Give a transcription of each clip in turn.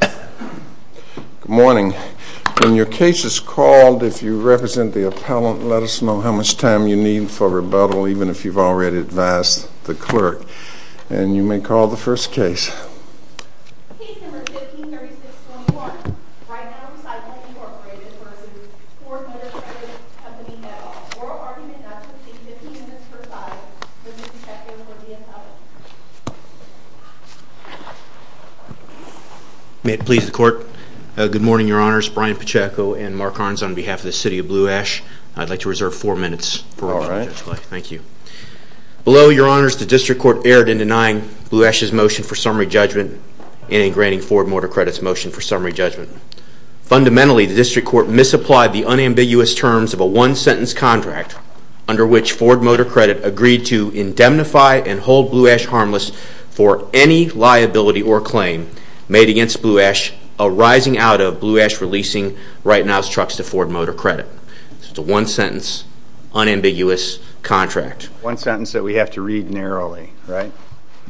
Good morning. When your case is called, if you represent the appellant, let us know how much time you need for rebuttal, even if you've already advised the clerk. And you may call the first case. Case number 1536-21. Right Now Recycling v. Ford Motor Credit. Have the meeting at all. Oral argument not to proceed. 15 minutes per side. Mr. Pacheco for the appellant. May it please the court. Good morning, your honors. Brian Pacheco and Mark Harns on behalf of the City of Blue Ash. I'd like to reserve four minutes for oral argument. Thank you. Below, your honors, the District Court erred in denying Blue Ash's motion for summary judgment and in granting Ford Motor Credit's motion for summary judgment. Fundamentally, the District Court misapplied the unambiguous terms of a one-sentence contract under which Ford Motor Credit agreed to indemnify and hold Blue Ash harmless for any liability or claim made against Blue Ash arising out of Blue Ash releasing Right Now's trucks to Ford Motor Credit. So it's a one-sentence, unambiguous contract. One sentence that we have to read narrowly, right?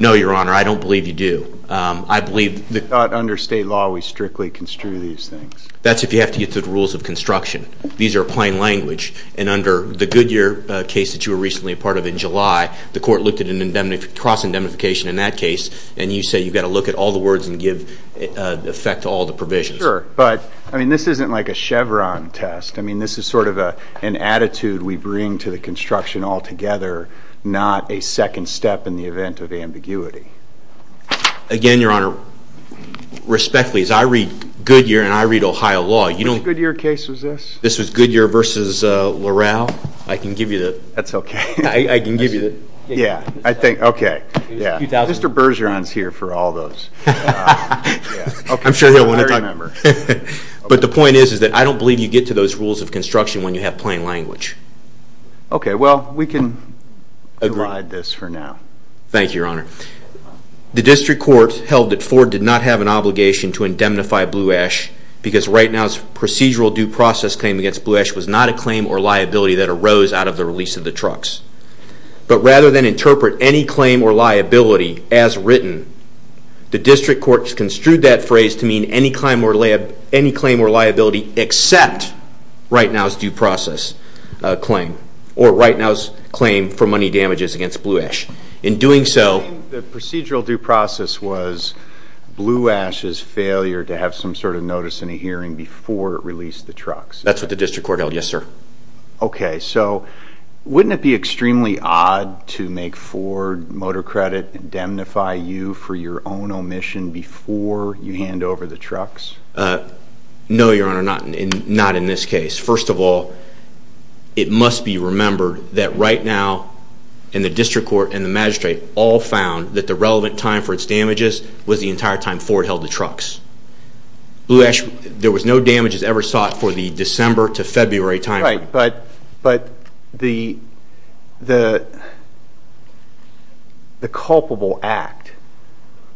No, your honor. I don't believe you do. It's not under state law we strictly construe these things. That's if you have to get through the rules of construction. These are plain language. And under the Goodyear case that you were recently a part of in July, the court looked at a cross-indemnification in that case. And you say you've got to look at all the words and give effect to all the provisions. Sure, but this isn't like a Chevron test. I mean, this is sort of an attitude we bring to the construction altogether, not a second step in the event of ambiguity. Again, your honor, respectfully, as I read Goodyear and I read Ohio law, you don't Which Goodyear case was this? This was Goodyear v. Loral. I can give you the That's okay. I can give you the Yeah, I think, okay. Mr. Bergeron's here for all those. I'm sure he'll want to talk. But the point is that I don't believe you get to those rules of construction when you have plain language. Okay, well, we can divide this for now. Thank you, your honor. The district court held that Ford did not have an obligation to indemnify Blue Ash because right now's procedural due process claim against Blue Ash was not a claim or liability that arose out of the release of the trucks. But rather than interpret any claim or liability as written, the district court construed that phrase to mean any claim or liability except right now's due process claim or right now's claim for money damages against Blue Ash. In doing so The procedural due process was Blue Ash's failure to have some sort of notice in a hearing before it released the trucks. That's what the district court held, yes, sir. Okay, so wouldn't it be extremely odd to make Ford motor credit indemnify you for your own omission before you hand over the trucks? No, your honor, not in this case. First of all, it must be remembered that right now in the district court and the magistrate all found that the relevant time for its damages was the entire time Ford held the trucks. Blue Ash, there was no damages ever sought for the December to February time. Right, but the culpable act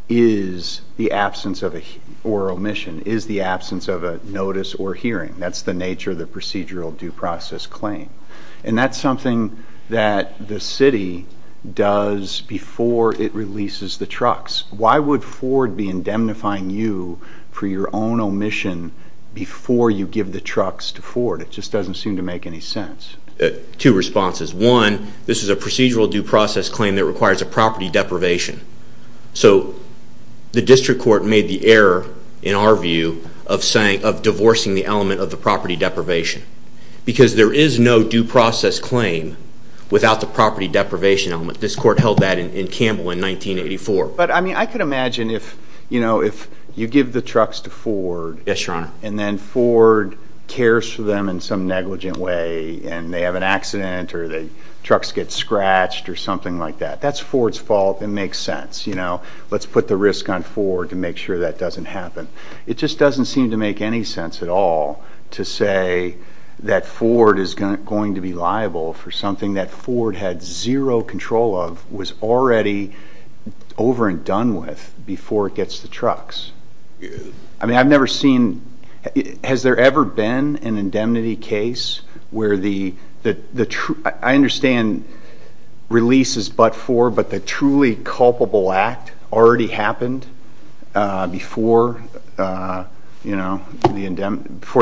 is the absence or omission, is the absence of a notice or hearing. That's the nature of the procedural due process claim. And that's something that the city does before it releases the trucks. Why would Ford be indemnifying you for your own omission before you give the trucks to Ford? It just doesn't seem to make any sense. Two responses. One, this is a procedural due process claim that requires a property deprivation. So the district court made the error, in our view, of divorcing the element of the property deprivation. Because there is no due process claim without the property deprivation element. This court held that in Campbell in 1984. But I could imagine if you give the trucks to Ford and then Ford cares for them in some negligent way and they have an accident or the trucks get scratched or something like that. That's Ford's fault. It makes sense. Let's put the risk on Ford to make sure that doesn't happen. It just doesn't seem to make any sense at all to say that Ford is going to be liable for something that Ford had zero control of, was already over and done with before it gets the trucks. I mean, I've never seen... Has there ever been an indemnity case where the... I understand release is but for, but the truly culpable act already happened before the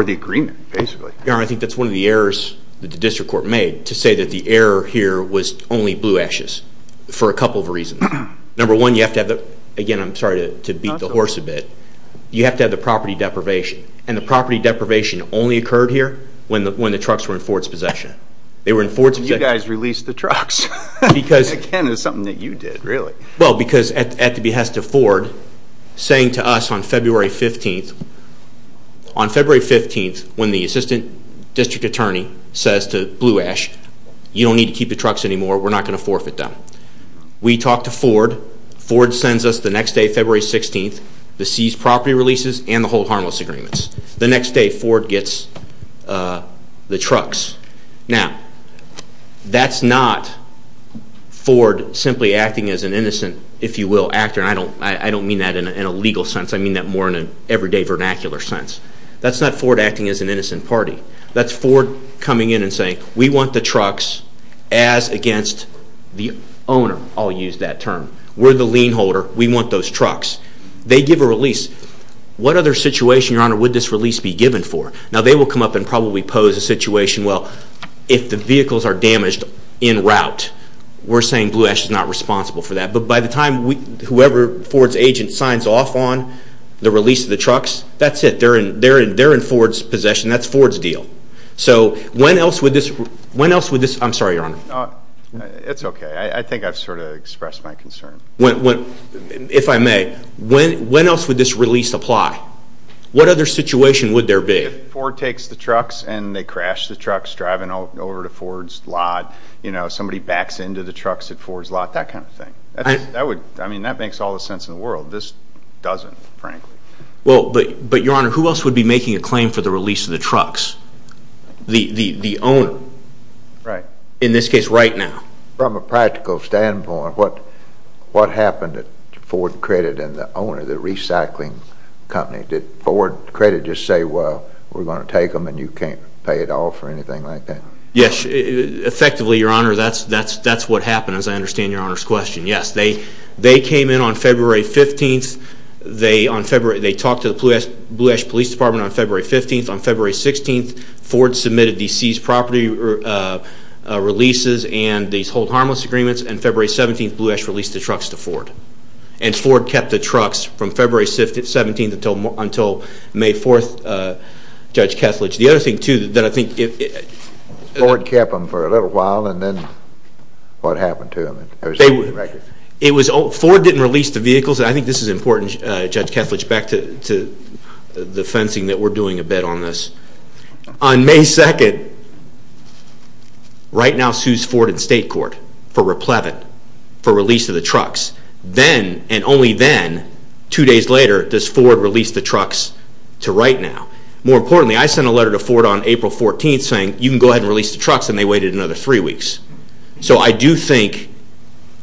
agreement, basically. I think that's one of the errors that the district court made. To say that the error here was only blue ashes. For a couple of reasons. Number one, you have to have the... Again, I'm sorry to beat the horse a bit. You have to have the property deprivation. And the property deprivation only occurred here when the trucks were in Ford's possession. You guys released the trucks. Again, it's something that you did, really. Well, because at the behest of Ford, saying to us on February 15th, when the assistant district attorney says to Blue Ash, you don't need to keep the trucks anymore, we're not going to forfeit them. We talked to Ford. Ford sends us the next day, February 16th, the seized property releases and the hold harmless agreements. The next day, Ford gets the trucks. Now, that's not Ford simply acting as an innocent, if you will, actor. And I don't mean that in a legal sense. I mean that more in an everyday vernacular sense. That's not Ford acting as an innocent party. That's Ford coming in and saying, we want the trucks as against the owner. I'll use that term. We're the lien holder. We want those trucks. They give a release. What other situation, Your Honor, would this release be given for? Now, they will come up and probably pose a situation, well, if the vehicles are damaged in route, we're saying Blue Ash is not responsible for that. But by the time whoever Ford's agent signs off on the release of the trucks, that's it. They're in Ford's possession. That's Ford's deal. So when else would this – I'm sorry, Your Honor. It's okay. I think I've sort of expressed my concern. If I may, when else would this release apply? What other situation would there be? If Ford takes the trucks and they crash the trucks driving over to Ford's lot, you know, somebody backs into the trucks at Ford's lot, that kind of thing. I mean, that makes all the sense in the world. This doesn't, frankly. Well, but, Your Honor, who else would be making a claim for the release of the trucks? The owner. Right. In this case, right now. From a practical standpoint, what happened at Ford Credit and the owner, the recycling company? Did Ford Credit just say, well, we're going to take them and you can't pay at all for anything like that? Yes. Effectively, Your Honor, that's what happened, as I understand Your Honor's question. Yes, they came in on February 15th. They talked to the Blue Ash Police Department on February 15th. On February 16th, Ford submitted these seized property releases and these hold harmless agreements, and February 17th, Blue Ash released the trucks to Ford. And Ford kept the trucks from February 17th until May 4th, Judge Kethledge. The other thing, too, that I think... Ford kept them for a little while, and then what happened to them? Ford didn't release the vehicles, and I think this is important, Judge Kethledge, back to the fencing that we're doing a bit on this. On May 2nd, right now, sues Ford and state court for replevant for release of the trucks. Then, and only then, two days later, does Ford release the trucks to right now. More importantly, I sent a letter to Ford on April 14th saying, you can go ahead and release the trucks, and they waited another three weeks. So I do think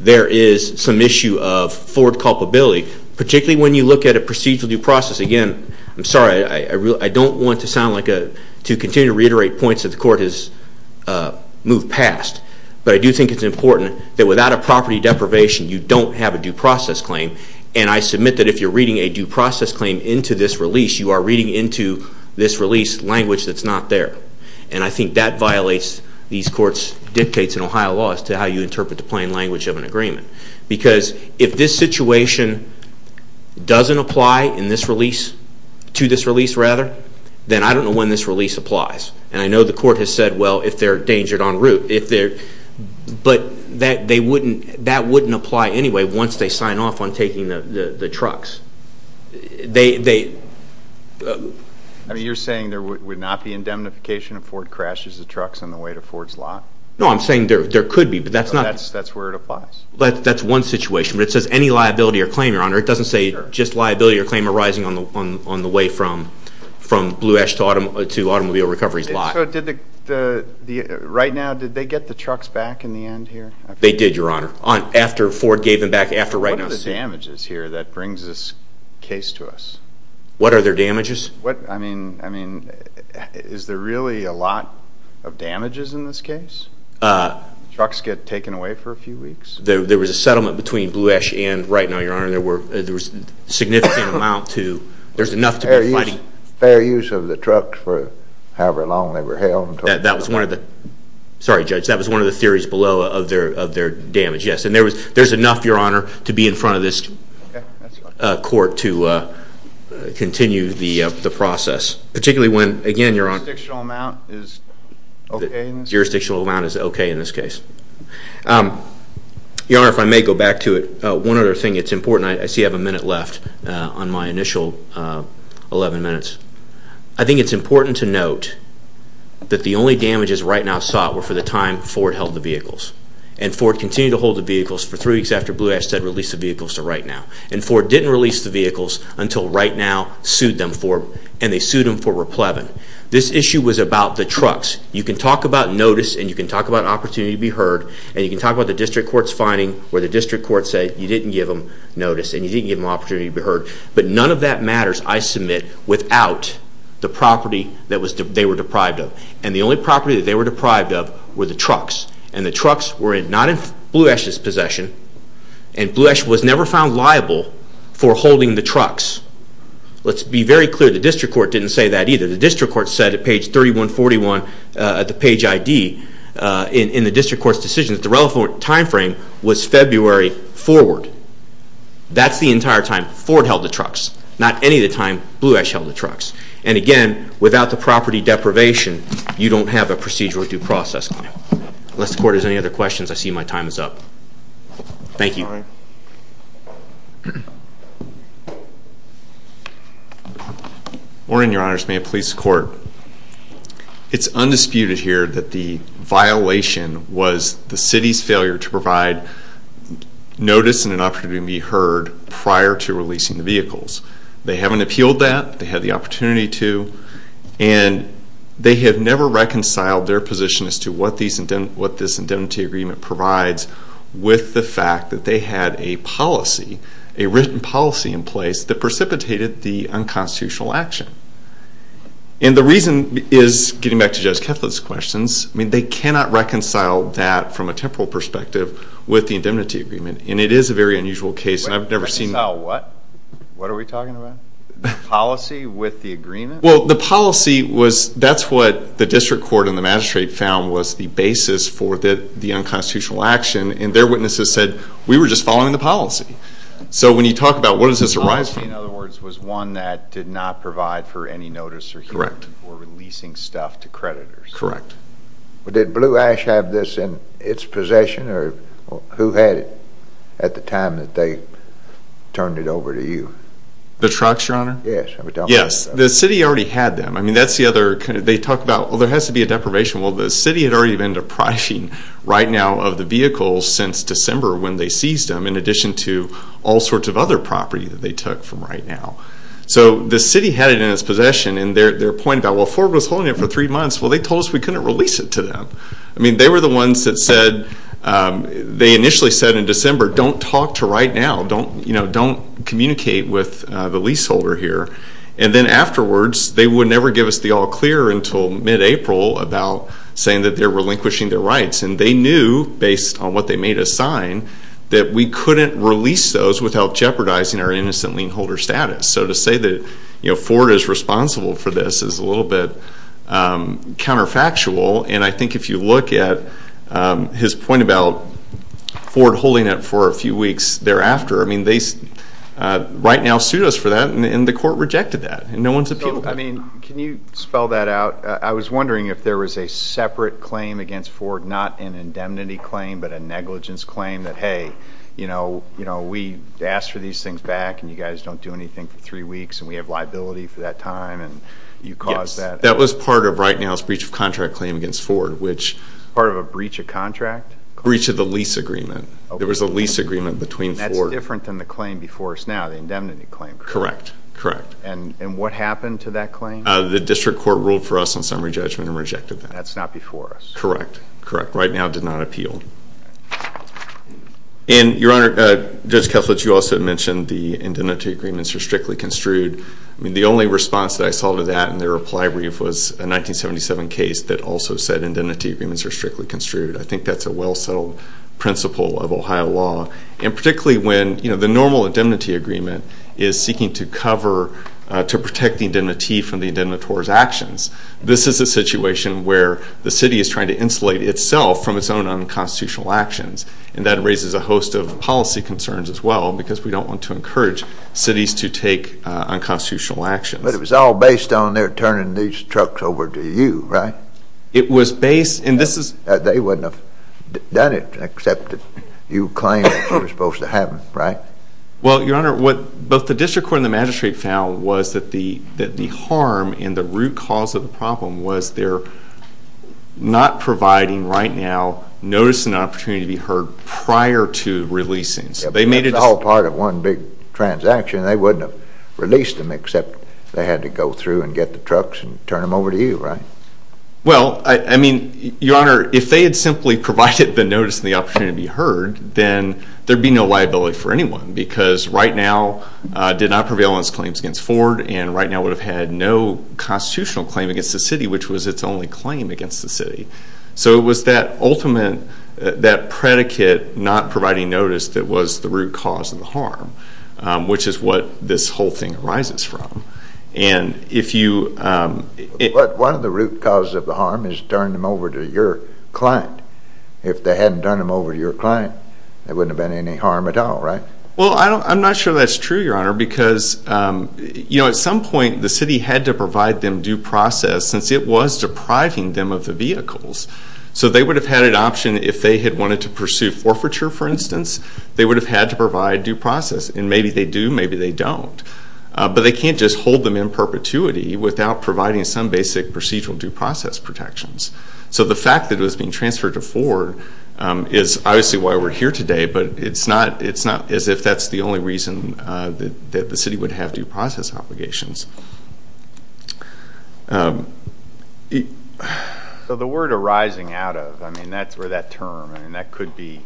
there is some issue of Ford culpability, particularly when you look at a procedural due process. Again, I'm sorry, I don't want to continue to reiterate points that the court has moved past, but I do think it's important that without a property deprivation, you don't have a due process claim, and I submit that if you're reading a due process claim into this release, you are reading into this release language that's not there, and I think that violates these courts' dictates in Ohio law as to how you interpret the plain language of an agreement, because if this situation doesn't apply in this release, to this release rather, then I don't know when this release applies, and I know the court has said, well, if they're endangered en route, but that wouldn't apply anyway once they sign off on taking the trucks. I mean, you're saying there would not be indemnification if Ford crashes the trucks on the way to Ford's lot? No, I'm saying there could be, but that's not... That's where it applies. That's one situation, but it says any liability or claim, Your Honor. It doesn't say just liability or claim arising on the way from Blue Ash to Automobile Recovery's lot. So right now, did they get the trucks back in the end here? They did, Your Honor, after Ford gave them back, after right now... What are the damages here that brings this case to us? What are their damages? I mean, is there really a lot of damages in this case? Trucks get taken away for a few weeks. There was a settlement between Blue Ash and right now, Your Honor. There was a significant amount to... Fair use of the trucks for however long they were held. That was one of the... Sorry, Judge, that was one of the theories below of their damage, yes. And there's enough, Your Honor, to be in front of this court to continue the process, particularly when, again, Your Honor... The jurisdictional amount is okay in this case? The jurisdictional amount is okay in this case. Your Honor, if I may go back to it, one other thing that's important. I see I have a minute left on my initial 11 minutes. I think it's important to note that the only damages right now sought were for the time Ford held the vehicles. And Ford continued to hold the vehicles for three weeks after Blue Ash said release the vehicles to right now. And Ford didn't release the vehicles until right now sued them for... And they sued them for replevin. This issue was about the trucks. You can talk about notice, and you can talk about opportunity to be heard, and you can talk about the district court's finding where the district court said you didn't give them notice and you didn't give them opportunity to be heard. But none of that matters, I submit, without the property that they were deprived of. And the only property that they were deprived of were the trucks. And the trucks were not in Blue Ash's possession, and Blue Ash was never found liable for holding the trucks. Let's be very clear. The district court didn't say that either. The district court said at page 3141 at the page ID in the district court's decision that the relevant time frame was February forward. That's the entire time Ford held the trucks, not any of the time Blue Ash held the trucks. And again, without the property deprivation, you don't have a procedural due process. Unless the court has any other questions, I see my time is up. Thank you. Morning, Your Honors. May it please the court. It's undisputed here that the violation was the city's failure to provide notice They haven't appealed that. They had the opportunity to. And they have never reconciled their position as to what this indemnity agreement provides with the fact that they had a policy, a written policy in place, that precipitated the unconstitutional action. And the reason is, getting back to Judge Kethlett's questions, they cannot reconcile that from a temporal perspective with the indemnity agreement. And it is a very unusual case, and I've never seen Reconcile what? What are we talking about? The policy with the agreement? Well, the policy was, that's what the district court and the magistrate found was the basis for the unconstitutional action. And their witnesses said, we were just following the policy. So when you talk about, what does this arise from? The policy, in other words, was one that did not provide for any notice or hearing or releasing stuff to creditors. Correct. Did Blue Ash have this in its possession, or who had it at the time that they turned it over to you? The trucks, Your Honor? Yes. Yes, the city already had them. I mean, that's the other, they talk about, well, there has to be a deprivation. Well, the city had already been depriving right now of the vehicles since December when they seized them, in addition to all sorts of other property that they took from right now. So the city had it in its possession. And their point about, well, Ford was holding it for three months. Well, they told us we couldn't release it to them. I mean, they were the ones that said, they initially said in December, don't talk to right now, don't communicate with the leaseholder here. And then afterwards, they would never give us the all clear until mid-April about saying that they're relinquishing their rights. And they knew, based on what they made us sign, that we couldn't release those without jeopardizing our innocent lien holder status. So to say that Ford is responsible for this is a little bit counterfactual. And I think if you look at his point about Ford holding it for a few weeks thereafter, I mean, they right now sued us for that, and the court rejected that. And no one's appealed. So, I mean, can you spell that out? I was wondering if there was a separate claim against Ford, not an indemnity claim, but a negligence claim that, hey, you know, we asked for these things back, and you guys don't do anything for three weeks, and we have liability for that time, and you caused that. Yes, that was part of right now's breach of contract claim against Ford, which Part of a breach of contract? Breach of the lease agreement. There was a lease agreement between Ford And that's different than the claim before us now, the indemnity claim, correct? Correct, correct. And what happened to that claim? The district court ruled for us on summary judgment and rejected that. That's not before us. Correct, correct. Right now it did not appeal. And, Your Honor, Judge Kethledge, you also mentioned the indemnity agreements are strictly construed. I mean, the only response that I saw to that in the reply brief was a 1977 case that also said indemnity agreements are strictly construed. I think that's a well-settled principle of Ohio law, and particularly when, you know, the normal indemnity agreement is seeking to cover, to protect the indemnity from the indemnitor's actions. This is a situation where the city is trying to insulate itself from its own unconstitutional actions, and that raises a host of policy concerns as well because we don't want to encourage cities to take unconstitutional actions. But it was all based on their turning these trucks over to you, right? It was based, and this is... They wouldn't have done it except that you claimed they were supposed to have them, right? Well, Your Honor, what both the district court and the magistrate found was that the harm and the root cause of the problem was they're not providing right now notice and opportunity to be heard prior to releasing. So they made it... That's all part of one big transaction. They wouldn't have released them except they had to go through and get the trucks and turn them over to you, right? Well, I mean, Your Honor, if they had simply provided the notice and the opportunity to be heard, then there'd be no liability for anyone because right now did not prevail on its claims against Ford, and right now would have had no constitutional claim against the city, which was its only claim against the city. So it was that ultimate... that predicate not providing notice that was the root cause of the harm, which is what this whole thing arises from. And if you... But one of the root causes of the harm is turn them over to your client. If they hadn't turned them over to your client, there wouldn't have been any harm at all, right? Well, I'm not sure that's true, Your Honor, because, you know, at some point the city had to provide them due process since it was depriving them of the vehicles. So they would have had an option if they had wanted to pursue forfeiture, for instance, they would have had to provide due process. And maybe they do, maybe they don't. But they can't just hold them in perpetuity without providing some basic procedural due process protections. So the fact that it was being transferred to Ford is obviously why we're here today, but it's not as if that's the only reason that the city would have due process obligations. So the word arising out of, I mean, that's where that term, I mean, that could be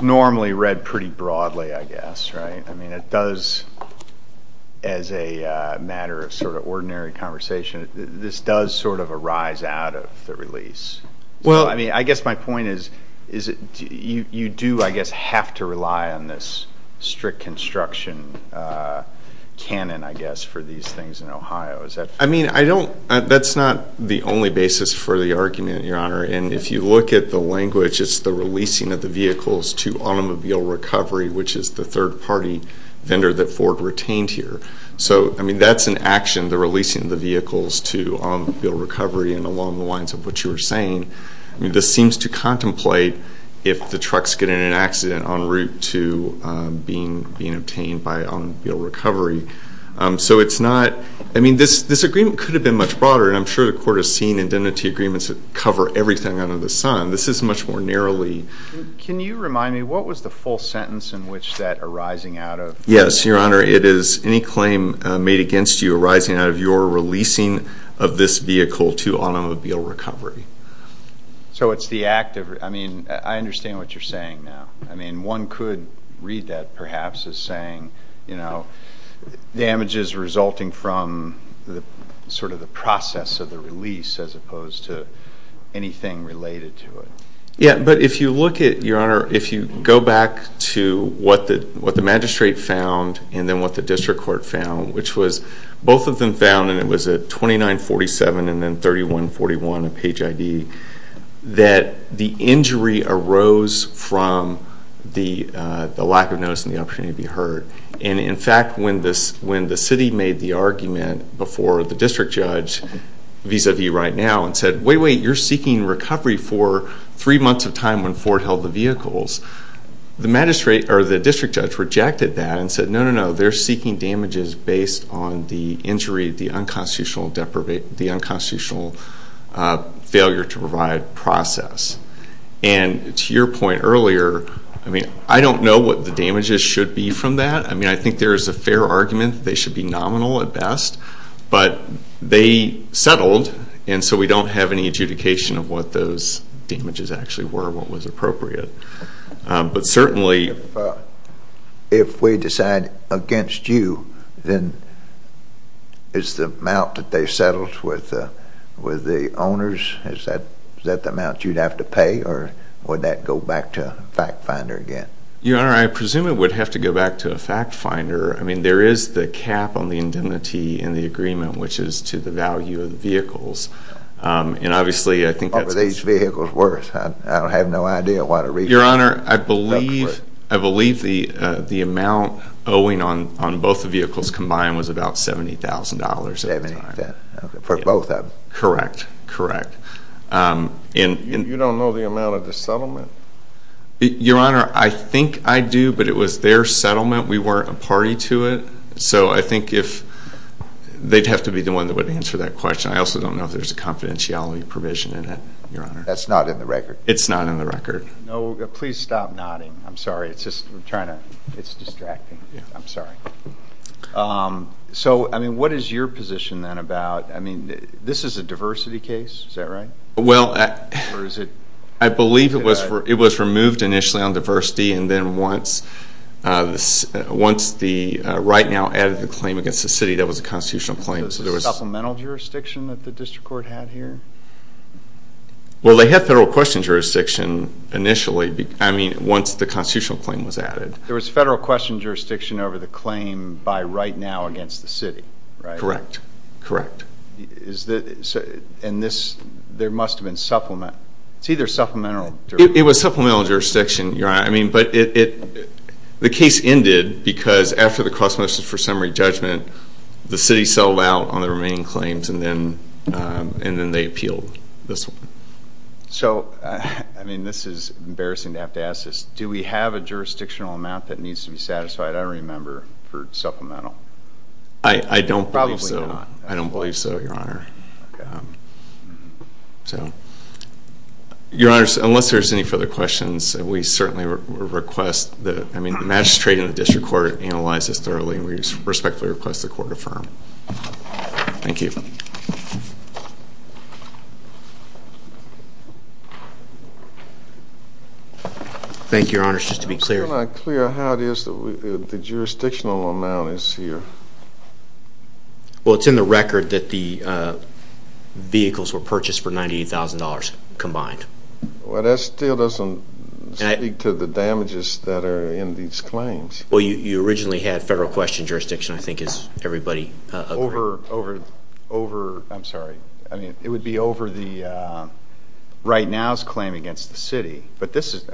normally read pretty broadly, I guess, right? I mean, it does, as a matter of sort of ordinary conversation, this does sort of arise out of the release. Well, I mean, I guess my point is you do, I guess, have to rely on this strict construction canon, I guess, for these things in Ohio. I mean, I don't, that's not the only basis for the argument, Your Honor. And if you look at the language, it's the releasing of the vehicles to automobile recovery, which is the third-party vendor that Ford retained here. So, I mean, that's an action, the releasing of the vehicles to automobile recovery and along the lines of what you were saying. I mean, this seems to contemplate if the trucks get in an accident en route to being obtained by automobile recovery. So it's not, I mean, this agreement could have been much broader, and I'm sure the court has seen indemnity agreements that cover everything under the sun. This is much more narrowly. Can you remind me, what was the full sentence in which that arising out of? Yes, Your Honor, it is any claim made against you arising out of your releasing of this vehicle to automobile recovery. So it's the act of, I mean, I understand what you're saying now. I mean, one could read that perhaps as saying, you know, damages resulting from sort of the process of the release as opposed to anything related to it. Yeah, but if you look at, Your Honor, if you go back to what the magistrate found and then what the district court found, which was both of them found, and it was at 2947 and then 3141, a page ID, that the injury arose from the lack of notice and the opportunity to be heard. And, in fact, when the city made the argument before the district judge vis-a-vis right now and said, wait, wait, you're seeking recovery for three months of time when Ford held the vehicles, the district judge rejected that and said, no, no, no, they're seeking damages based on the injury, the unconstitutional failure to provide process. And to your point earlier, I mean, I don't know what the damages should be from that. I mean, I think there is a fair argument that they should be nominal at best. But they settled, and so we don't have any adjudication of what those damages actually were, what was appropriate. But certainly if we decide against you, then is the amount that they settled with the owners, is that the amount you'd have to pay, or would that go back to a fact finder again? Your Honor, I presume it would have to go back to a fact finder. I mean, there is the cap on the indemnity in the agreement, which is to the value of the vehicles. What were these vehicles worth? I have no idea. Your Honor, I believe the amount owing on both the vehicles combined was about $70,000. For both of them? Correct, correct. You don't know the amount of the settlement? Your Honor, I think I do, but it was their settlement. We weren't a party to it. So I think they'd have to be the one that would answer that question. I also don't know if there's a confidentiality provision in it, Your Honor. That's not in the record. It's not in the record. No, please stop nodding. I'm sorry, it's distracting. I'm sorry. So, I mean, what is your position then about, I mean, this is a diversity case, is that right? Well, I believe it was removed initially on diversity, and then once the right now added the claim against the city that was a constitutional claim. So there was supplemental jurisdiction that the district court had here? Well, they had federal question jurisdiction initially, I mean, once the constitutional claim was added. There was federal question jurisdiction over the claim by right now against the city, right? Correct, correct. And this, there must have been supplement, it's either supplemental jurisdiction. It was supplemental jurisdiction, Your Honor. The case ended because after the cross motions for summary judgment, the city settled out on the remaining claims, and then they appealed this one. So, I mean, this is embarrassing to have to ask this. Do we have a jurisdictional amount that needs to be satisfied, I remember, for supplemental? I don't believe so. Probably not. I don't believe so, Your Honor. So, Your Honor, unless there's any further questions, we certainly request that, I mean, the magistrate and the district court analyze this thoroughly. We respectfully request the court affirm. Thank you. Thank you, Your Honor. Just to be clear. I'm still not clear how it is that the jurisdictional amount is here. Well, it's in the record that the vehicles were purchased for $98,000 combined. Well, that still doesn't speak to the damages that are in these claims. Well, you originally had federal question jurisdiction, I think, as everybody agreed. Over, over, over, I'm sorry. I mean, it would be over the right now's claim against the city. But this is,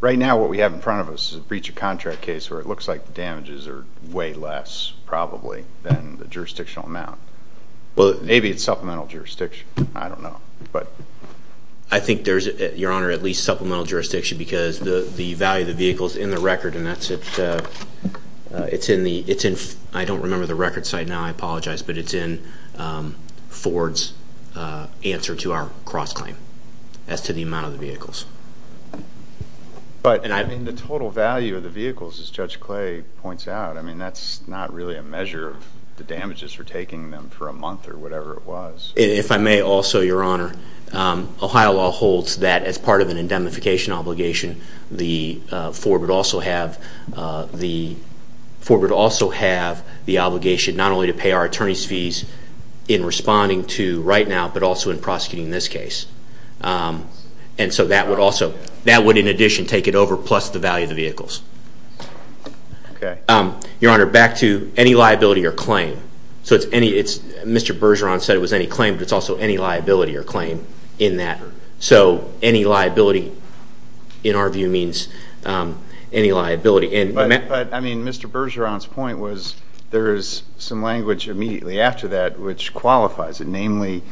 right now what we have in front of us is a breach of contract case where it looks like the damages are way less, probably, than the jurisdictional amount. Maybe it's supplemental jurisdiction. I don't know. I think there's, Your Honor, at least supplemental jurisdiction because the value of the vehicle is in the record, and that's in the, I don't remember the record site now, I apologize, but it's in Ford's answer to our cross-claim as to the amount of the vehicles. But, I mean, the total value of the vehicles, as Judge Clay points out, I mean, that's not really a measure of the damages for taking them for a month or whatever it was. If I may also, Your Honor, Ohio law holds that as part of an indemnification obligation, the four would also have the obligation not only to pay our attorney's fees in responding to right now, but also in prosecuting this case. And so that would also, that would in addition take it over plus the value of the vehicles. Your Honor, back to any liability or claim. So it's any, Mr. Bergeron said it was any claim, but it's also any liability or claim in that. So any liability, in our view, means any liability. But, I mean, Mr. Bergeron's point was there is some language immediately after that which qualifies it, which,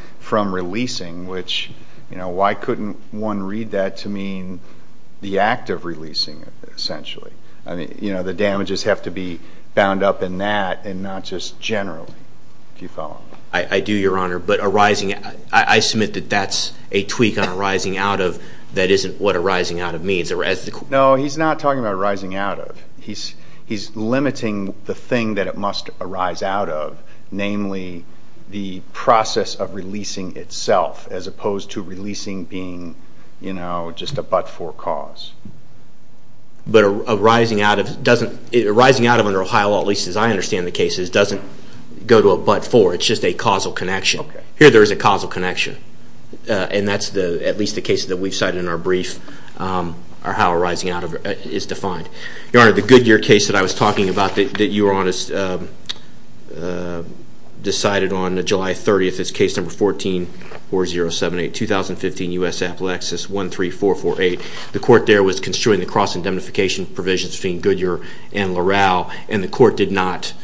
you know, why couldn't one read that to mean the act of releasing it, essentially? I mean, you know, the damages have to be bound up in that and not just generally, if you follow me. I do, Your Honor. But arising, I submit that that's a tweak on arising out of that isn't what arising out of means. No, he's not talking about arising out of. He's limiting the thing that it must arise out of, namely the process of releasing itself, as opposed to releasing being, you know, just a but-for cause. But arising out of doesn't, arising out of under Ohio law, at least as I understand the case, doesn't go to a but-for. It's just a causal connection. Okay. Here there is a causal connection. And that's at least the case that we've cited in our brief, how arising out of is defined. Your Honor, the Goodyear case that I was talking about that you were on is decided on July 30th. It's case number 14-4078, 2015, U.S. Appalachians, 13448. The court there was construing the cross-indemnification provisions between Goodyear and Loral, and the court did not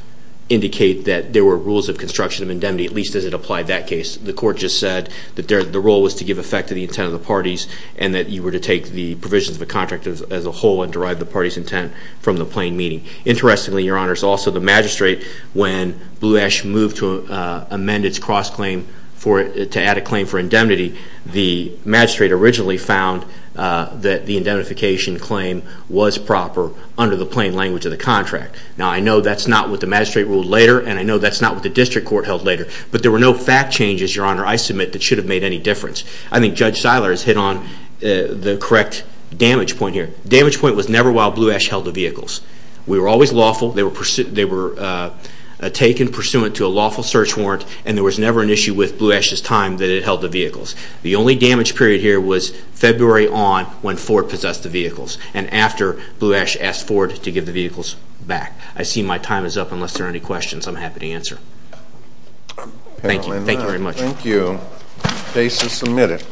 indicate that there were rules of construction of indemnity, at least as it applied that case. The court just said that the role was to give effect to the intent of the parties and that you were to take the provisions of the contract as a whole and derive the party's intent from the plain meaning. Interestingly, Your Honor, it's also the magistrate, when Blue Ash moved to amend its cross-claim to add a claim for indemnity, the magistrate originally found that the indemnification claim was proper under the plain language of the contract. Now, I know that's not what the magistrate ruled later, and I know that's not what the district court held later, but there were no fact changes, Your Honor, I submit, that should have made any difference. I think Judge Seiler has hit on the correct damage point here. The damage point was never while Blue Ash held the vehicles. We were always lawful. They were taken pursuant to a lawful search warrant, and there was never an issue with Blue Ash's time that it held the vehicles. The only damage period here was February on when Ford possessed the vehicles and after Blue Ash asked Ford to give the vehicles back. I see my time is up. Unless there are any questions, I'm happy to answer. Thank you. Thank you very much. Thank you. Case is submitted.